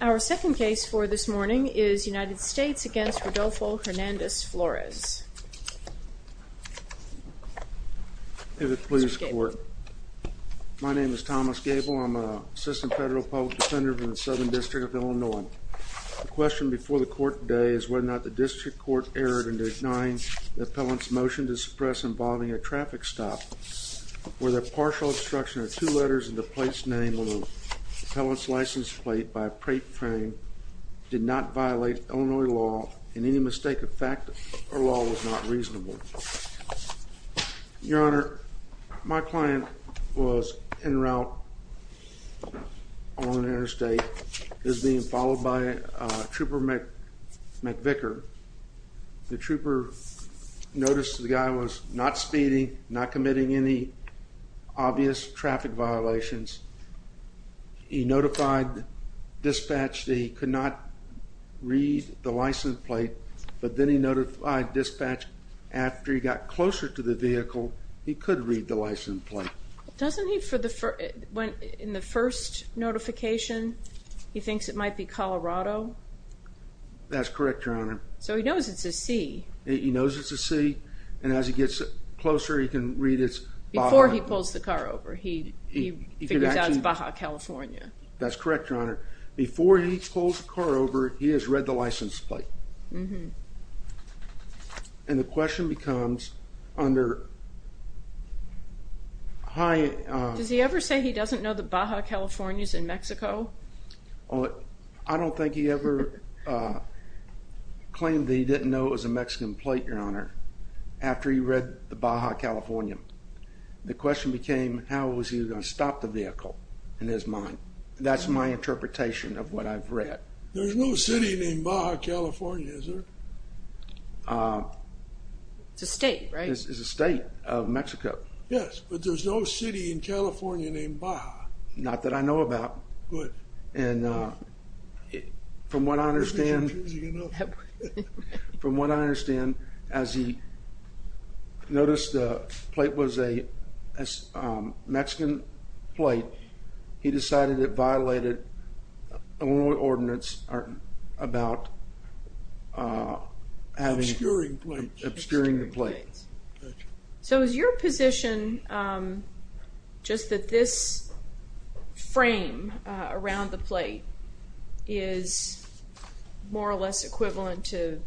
Our second case for this morning is United States v. Rodolfo Hernandez Flores. My name is Thomas Gable. I'm an assistant federal public defender for the Southern District of Illinois. The question before the court today is whether or not the district court erred in denying the appellant's motion to suppress involving a traffic stop where the partial obstruction of two letters in the plate's name on the appellant's license plate by a plate frame did not violate Illinois law and any mistake of fact or law was not reasonable. Your Honor, my client was en route on an interstate that was being followed by Trooper McVicker. The trooper noticed the guy was not speeding, not committing any obvious traffic violations. He notified dispatch that he could not read the license plate, but then he notified dispatch after he got closer to the vehicle he could read the license plate. Doesn't he, in the first notification, he thinks it might be Colorado? That's correct, Your Honor. So he knows it's a C. He knows it's a C, and as he gets closer he can read it's Baja. Before he pulls the car over he figures out it's Baja, California. That's correct, Your Honor. Before he pulls the car over he has read the license plate. And the question becomes, under high... Does he ever say he doesn't know that Baja, California is in Mexico? I don't think he ever claimed that he didn't know it was a Mexican plate, Your Honor, after he read the Baja, California. The question became how was he going to stop the vehicle in his mind. That's my interpretation of what I've read. There's no city named Baja, California, is there? It's a state, right? It's a state of Mexico. Yes, but there's no city in California named Baja. Not that I know about. Good. And from what I understand... This is confusing enough. From what I understand, as he noticed the plate was a Mexican plate, he decided it violated Illinois ordinance about having... Obscuring plates. Obscuring the plates. So is your position just that this frame around the plate is more or less equivalent to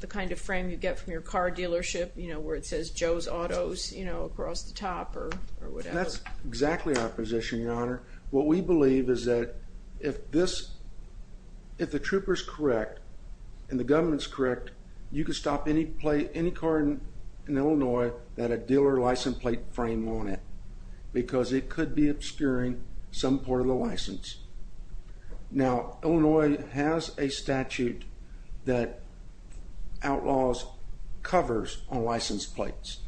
the kind of frame you get from your car dealership where it says Joe's Autos across the top or whatever? That's exactly our position, Your Honor. What we believe is that if the trooper's correct and the government's correct, you can stop any car in Illinois that a dealer license plate frame on it because it could be obscuring some part of the license. Now, Illinois has a statute that outlaws covers on license plates.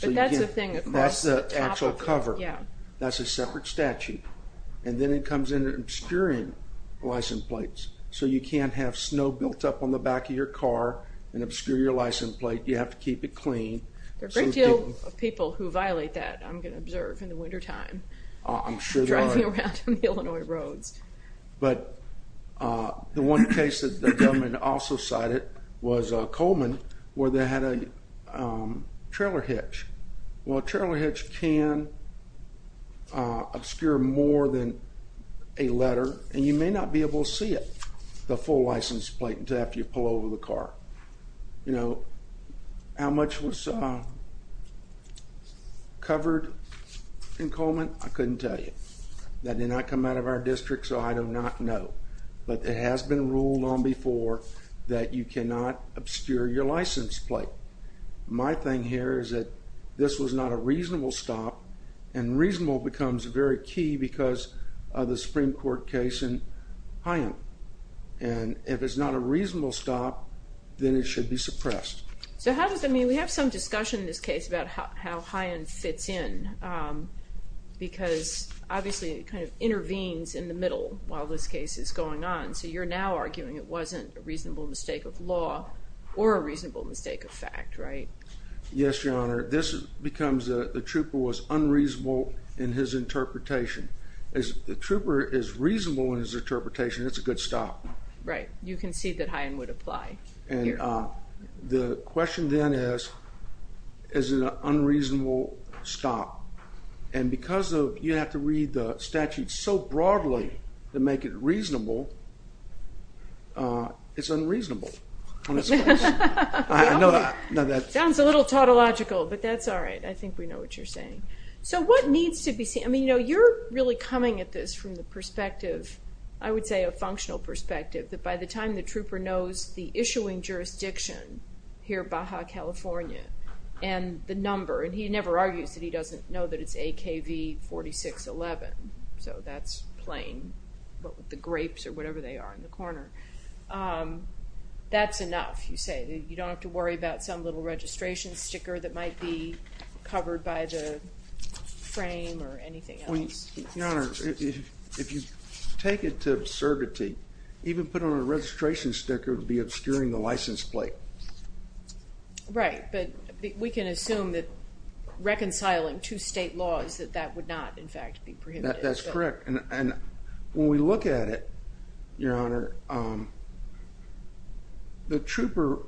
But that's a thing across the top of it. That's the actual cover. That's a separate statute. And then it comes into obscuring license plates so you can't have snow built up on the back of your car and obscure your license plate. You have to keep it clean. There are a great deal of people who violate that, I'm going to observe, in the wintertime. I'm sure there are. Driving around on the Illinois roads. But the one case that the government also cited was Coleman where they had a trailer hitch. Well, a trailer hitch can obscure more than a letter, and you may not be able to see it, the full license plate, until after you pull over the car. You know, how much was covered in Coleman? I couldn't tell you. That did not come out of our district, so I do not know. But it has been ruled on before that you cannot obscure your license plate. My thing here is that this was not a reasonable stop, and reasonable becomes very key because of the Supreme Court case in High End. And if it's not a reasonable stop, then it should be suppressed. So how does that mean? We have some discussion in this case about how High End fits in, because obviously it kind of intervenes in the middle while this case is going on. So you're now arguing it wasn't a reasonable mistake of law or a reasonable mistake of fact, right? Yes, Your Honor. This becomes the trooper was unreasonable in his interpretation. If the trooper is reasonable in his interpretation, it's a good stop. Right. You concede that High End would apply. The question then is, is it an unreasonable stop? And because you have to read the statute so broadly to make it reasonable, it's unreasonable. Sounds a little tautological, but that's all right. I think we know what you're saying. So what needs to be seen? I mean, you know, you're really coming at this from the perspective, I would say a functional perspective, that by the time the trooper knows the issuing jurisdiction here at Baja California and the number, and he never argues that he doesn't know that it's AKV 4611, so that's plain, the grapes or whatever they are in the corner. That's enough, you say. You don't have to worry about some little registration sticker that might be covered by the frame or anything else. Your Honor, if you take it to absurdity, even putting on a registration sticker would be obscuring the license plate. Right, but we can assume that reconciling two state laws, that that would not, in fact, be prohibited. That's correct. And when we look at it, Your Honor, the trooper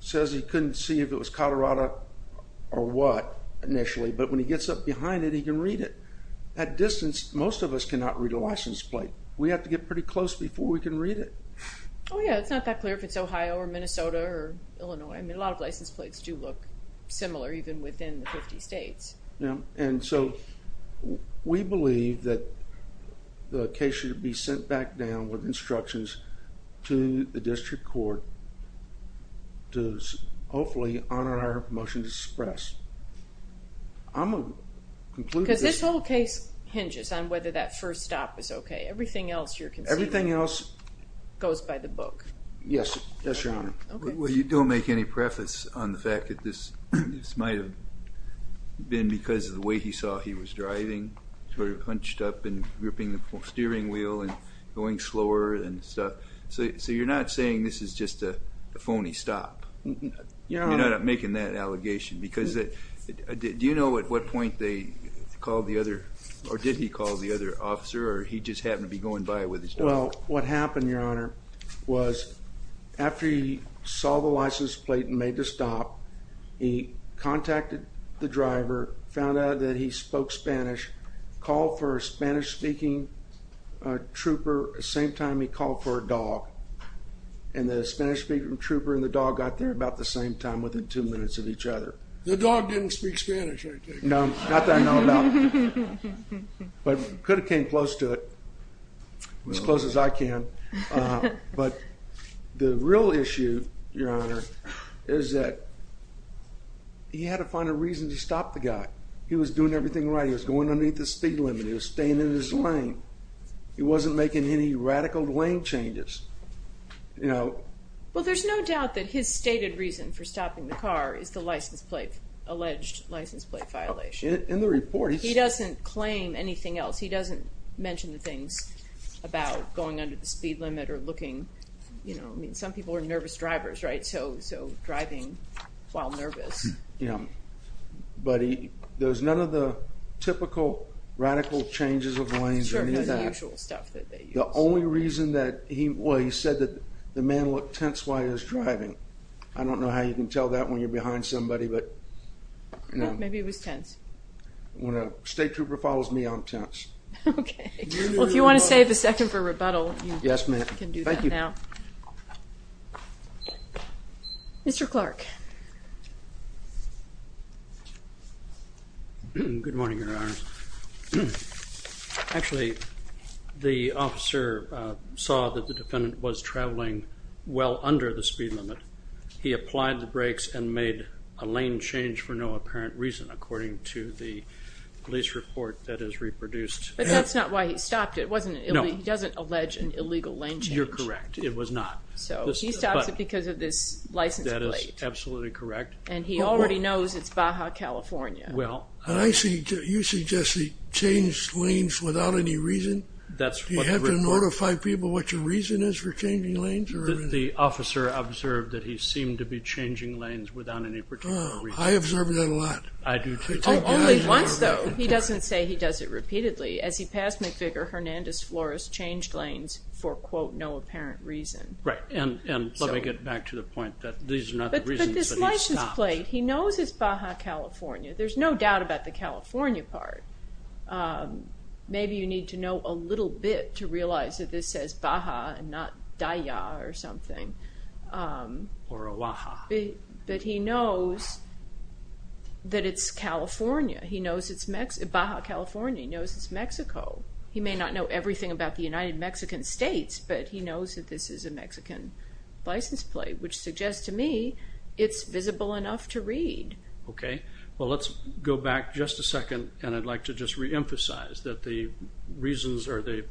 says he couldn't see if it was Colorado or what initially, but when he gets up behind it, he can read it. At distance, most of us cannot read a license plate. We have to get pretty close before we can read it. Oh, yeah, it's not that clear if it's Ohio or Minnesota or Illinois. I mean, a lot of license plates do look similar even within the 50 states. Yeah, and so we believe that the case should be sent back down with instructions to the district court to hopefully honor our motion to suppress. I'm going to conclude this. Because this whole case hinges on whether that first stop is okay. Everything else you're considering goes by the book. Yes, Your Honor. Well, you don't make any preface on the fact that this might have been because of the way he saw he was driving, sort of hunched up and gripping the steering wheel and going slower and stuff. So you're not saying this is just a phony stop? You're not making that allegation? Because do you know at what point they called the other or did he call the other officer or he just happened to be going by with his dog? Well, what happened, Your Honor, was after he saw the license plate and made the stop, he contacted the driver, found out that he spoke Spanish, called for a Spanish-speaking trooper at the same time he called for a dog, and the Spanish-speaking trooper and the dog got there about the same time, within two minutes of each other. The dog didn't speak Spanish, I take it? No, not that I know about. But could have came close to it, as close as I can. But the real issue, Your Honor, is that he had to find a reason to stop the guy. He was doing everything right. He was going underneath the speed limit. He was staying in his lane. He wasn't making any radical lane changes. Well, there's no doubt that his stated reason for stopping the car is the license plate, alleged license plate violation. In the report. He doesn't claim anything else. He doesn't mention the things about going under the speed limit or looking. I mean, some people are nervous drivers, right? So driving while nervous. Yeah. But there's none of the typical radical changes of lanes or any of that. The usual stuff that they use. The only reason that he said that the man looked tense while he was driving, I don't know how you can tell that when you're behind somebody. Maybe he was tense. When a state trooper follows me, I'm tense. Okay. Well, if you want to save a second for rebuttal, you can do that now. Yes, ma'am. Thank you. Mr. Clark. Good morning, Your Honor. Actually, the officer saw that the defendant was traveling well under the speed limit. He applied the brakes and made a lane change for no apparent reason, according to the police report that is reproduced. But that's not why he stopped it, wasn't it? No. He doesn't allege an illegal lane change. You're correct. It was not. So he stops it because of this license plate. That is absolutely correct. And he already knows it's Baja, California. You suggest he changed lanes without any reason? Do you have to notify people what your reason is for changing lanes? The officer observed that he seemed to be changing lanes without any particular reason. I observe that a lot. Only once, though. He doesn't say he does it repeatedly. As he passed McVicker, Hernandez-Flores changed lanes for, quote, no apparent reason. Right. And let me get back to the point that these are not the reasons, but he stopped. But this license plate, he knows it's Baja, California. There's no doubt about the California part. Maybe you need to know a little bit to realize that this says Baja and not Daya or something. Or Oaxaca. But he knows that it's California. He knows it's Baja, California. He knows it's Mexico. He may not know everything about the United Mexican States, but he knows that this is a Mexican license plate, which suggests to me it's visible enough to read. Okay. Well, let's go back just a second, and I'd like to just reemphasize that the reasons or the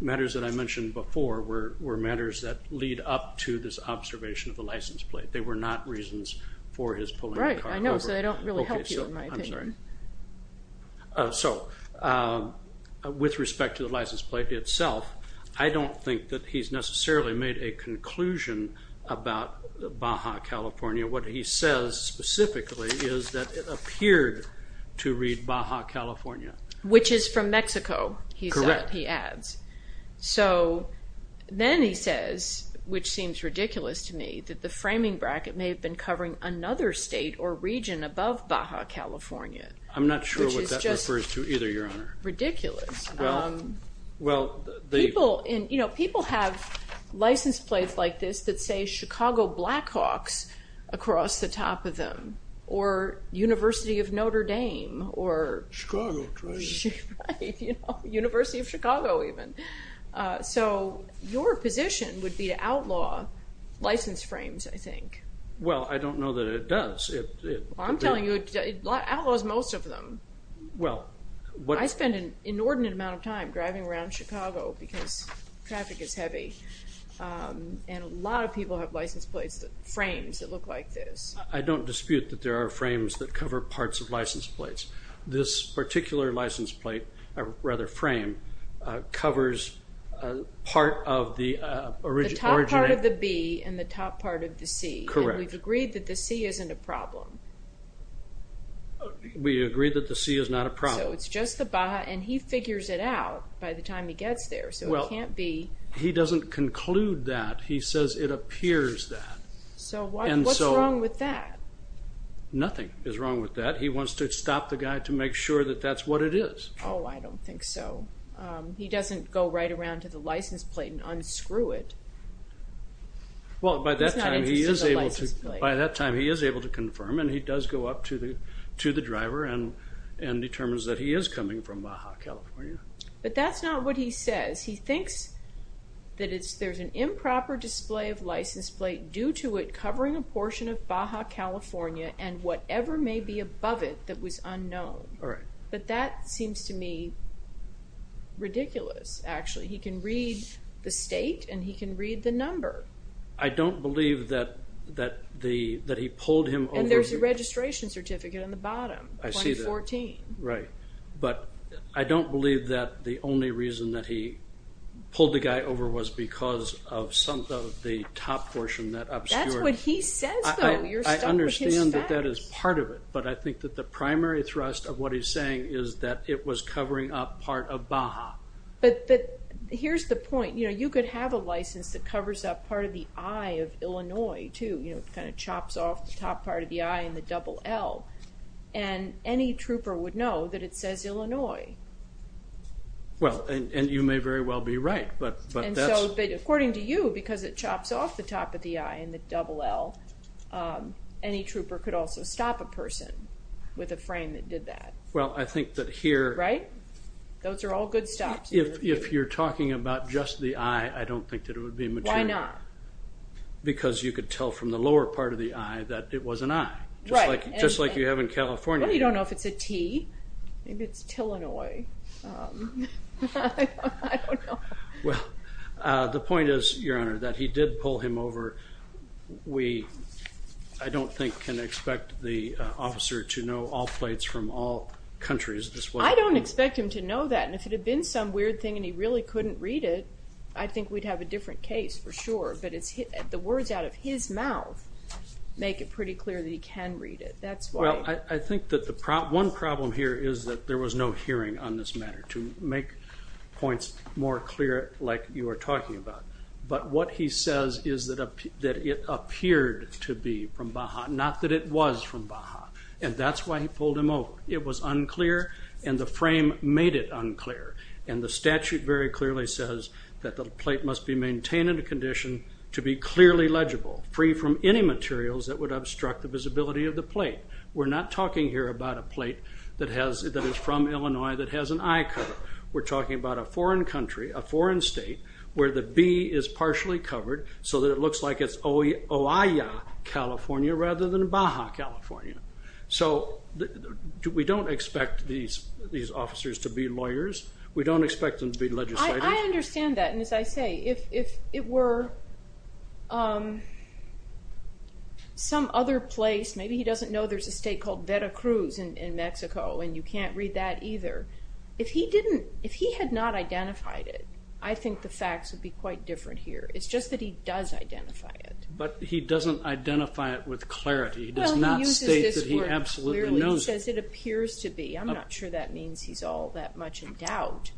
matters that I mentioned before were matters that lead up to this observation of the license plate. They were not reasons for his pulling the car over. Right. I know, so they don't really help you in my opinion. I'm sorry. So with respect to the license plate itself, I don't think that he's necessarily made a conclusion about Baja, California. What he says specifically is that it appeared to read Baja, California. Which is from Mexico, he adds. Correct. So then he says, which seems ridiculous to me, that the framing bracket may have been covering another state or region above Baja, California. I'm not sure what that refers to either, Your Honor. Ridiculous. People have license plates like this that say Chicago Blackhawks across the top of them, or University of Notre Dame, or University of Chicago even. So your position would be to outlaw license frames, I think. Well, I don't know that it does. I'm telling you, it outlaws most of them. I spend an inordinate amount of time driving around Chicago because traffic is heavy, and a lot of people have license plates, frames that look like this. I don't dispute that there are frames that cover parts of license plates. This particular license plate, or rather frame, covers part of the original. The top part of the B and the top part of the C. Correct. And we've agreed that the C isn't a problem. We agree that the C is not a problem. So it's just the Baja, and he figures it out by the time he gets there. Well, he doesn't conclude that. He says it appears that. So what's wrong with that? Nothing is wrong with that. He wants to stop the guy to make sure that that's what it is. Oh, I don't think so. He doesn't go right around to the license plate and unscrew it. He's not interested in the license plate. By that time, he is able to confirm, and he does go up to the driver and determines that he is coming from Baja, California. But that's not what he says. He thinks that there's an improper display of license plate due to it covering a portion of Baja, California, and whatever may be above it that was unknown. But that seems to me ridiculous, actually. He can read the state, and he can read the number. I don't believe that he pulled him over. And there's a registration certificate on the bottom. I see that. 2014. Right. But I don't believe that the only reason that he pulled the guy over was because of the top portion that obscured. That's what he says, though. You're stuck with his facts. I understand that that is part of it, but I think that the primary thrust of what he's saying is that it was covering up part of Baja. But here's the point. You could have a license that covers up part of the I of Illinois, too. It kind of chops off the top part of the I and the double L, and any trooper would know that it says Illinois. Well, and you may very well be right. According to you, because it chops off the top of the I and the double L, any trooper could also stop a person with a frame that did that. Well, I think that here. Right? Those are all good stops. If you're talking about just the I, I don't think that it would be material. Why not? Because you could tell from the lower part of the I that it was an I, just like you have in California. Well, you don't know if it's a T. Maybe it's Tillinois. I don't know. Well, the point is, Your Honor, that he did pull him over. We, I don't think, can expect the officer to know all plates from all countries. I don't expect him to know that. And if it had been some weird thing and he really couldn't read it, I think we'd have a different case for sure. But the words out of his mouth make it pretty clear that he can read it. That's why. Well, I think that one problem here is that there was no hearing on this matter, to make points more clear, like you were talking about. But what he says is that it appeared to be from Baja, not that it was from Baja. And that's why he pulled him over. It was unclear, and the frame made it unclear. And the statute very clearly says that the plate must be maintained in a condition to be clearly legible, free from any materials that would obstruct the visibility of the plate. We're not talking here about a plate that is from Illinois that has an I covered. We're talking about a foreign country, a foreign state, where the B is partially covered so that it looks like it's Oia, California, rather than Baja, California. So we don't expect these officers to be lawyers. We don't expect them to be legislators. I understand that, and as I say, if it were some other place, maybe he doesn't know there's a state called Veracruz in Mexico, and you can't read that either. If he had not identified it, I think the facts would be quite different here. It's just that he does identify it. But he doesn't identify it with clarity. He does not state that he absolutely knows it. Well, he uses this word clearly. He says it appears to be. I'm not sure that means he's all that much in doubt.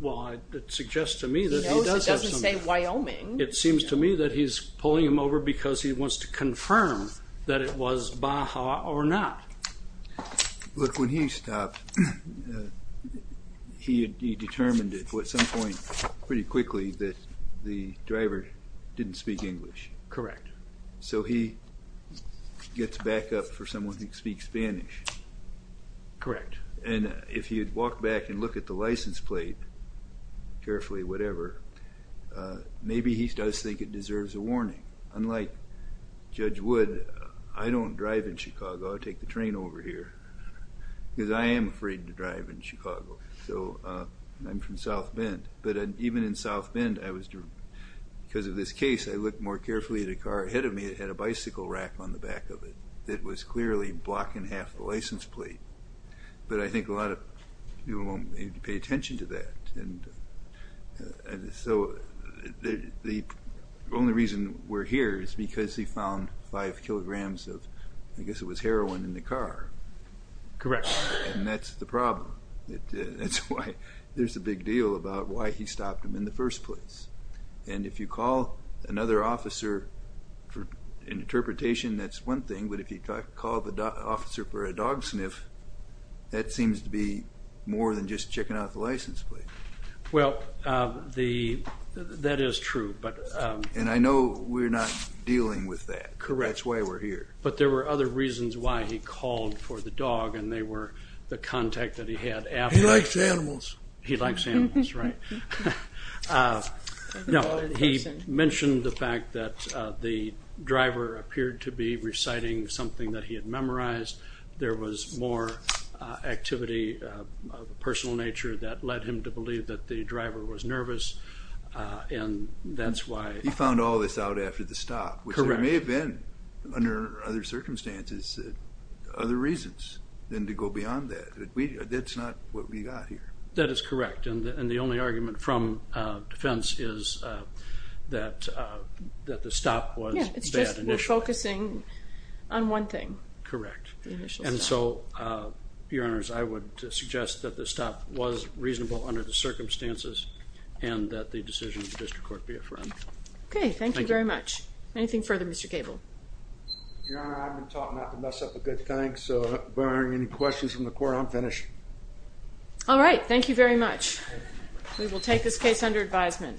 Well, it suggests to me that he does have some doubt. He knows it doesn't say Wyoming. It seems to me that he's pulling him over because he wants to confirm that it was Baja or not. Look, when he stopped, he determined at some point pretty quickly that the driver didn't speak English. Correct. So he gets back up for someone who speaks Spanish. Correct. And if he had walked back and looked at the license plate carefully, whatever, maybe he does think it deserves a warning. Unlike Judge Wood, I don't drive in Chicago. I take the train over here because I am afraid to drive in Chicago. So I'm from South Bend. But even in South Bend, because of this case, I look more carefully at a car ahead of me that had a bicycle rack on the back of it that was clearly blocking half the license plate. But I think a lot of people won't pay attention to that. So the only reason we're here is because he found five kilograms of, I guess it was heroin, in the car. Correct. And that's the problem. That's why there's a big deal about why he stopped him in the first place. And if you call another officer for an interpretation, that's one thing. But if you call the officer for a dog sniff, that seems to be more than just checking out the license plate. Well, that is true. And I know we're not dealing with that. That's why we're here. But there were other reasons why he called for the dog, and they were the contact that he had. He likes animals. He likes animals, right. No, he mentioned the fact that the driver appeared to be reciting something that he had memorized. There was more activity of a personal nature that led him to believe that the driver was nervous, and that's why. He found all this out after the stop, which there may have been, under other circumstances, other reasons than to go beyond that. That's not what we got here. That is correct. And the only argument from defense is that the stop was a bad initial. Yeah, it's just we're focusing on one thing. And so, Your Honors, I would suggest that the stop was reasonable under the circumstances and that the decision of the district court be affirmed. Okay. Thank you very much. Anything further, Mr. Cable? Your Honor, I've been taught not to mess up a good thing, so barring any questions from the court, I'm finished. All right. Thank you very much. We will take this case under advisement.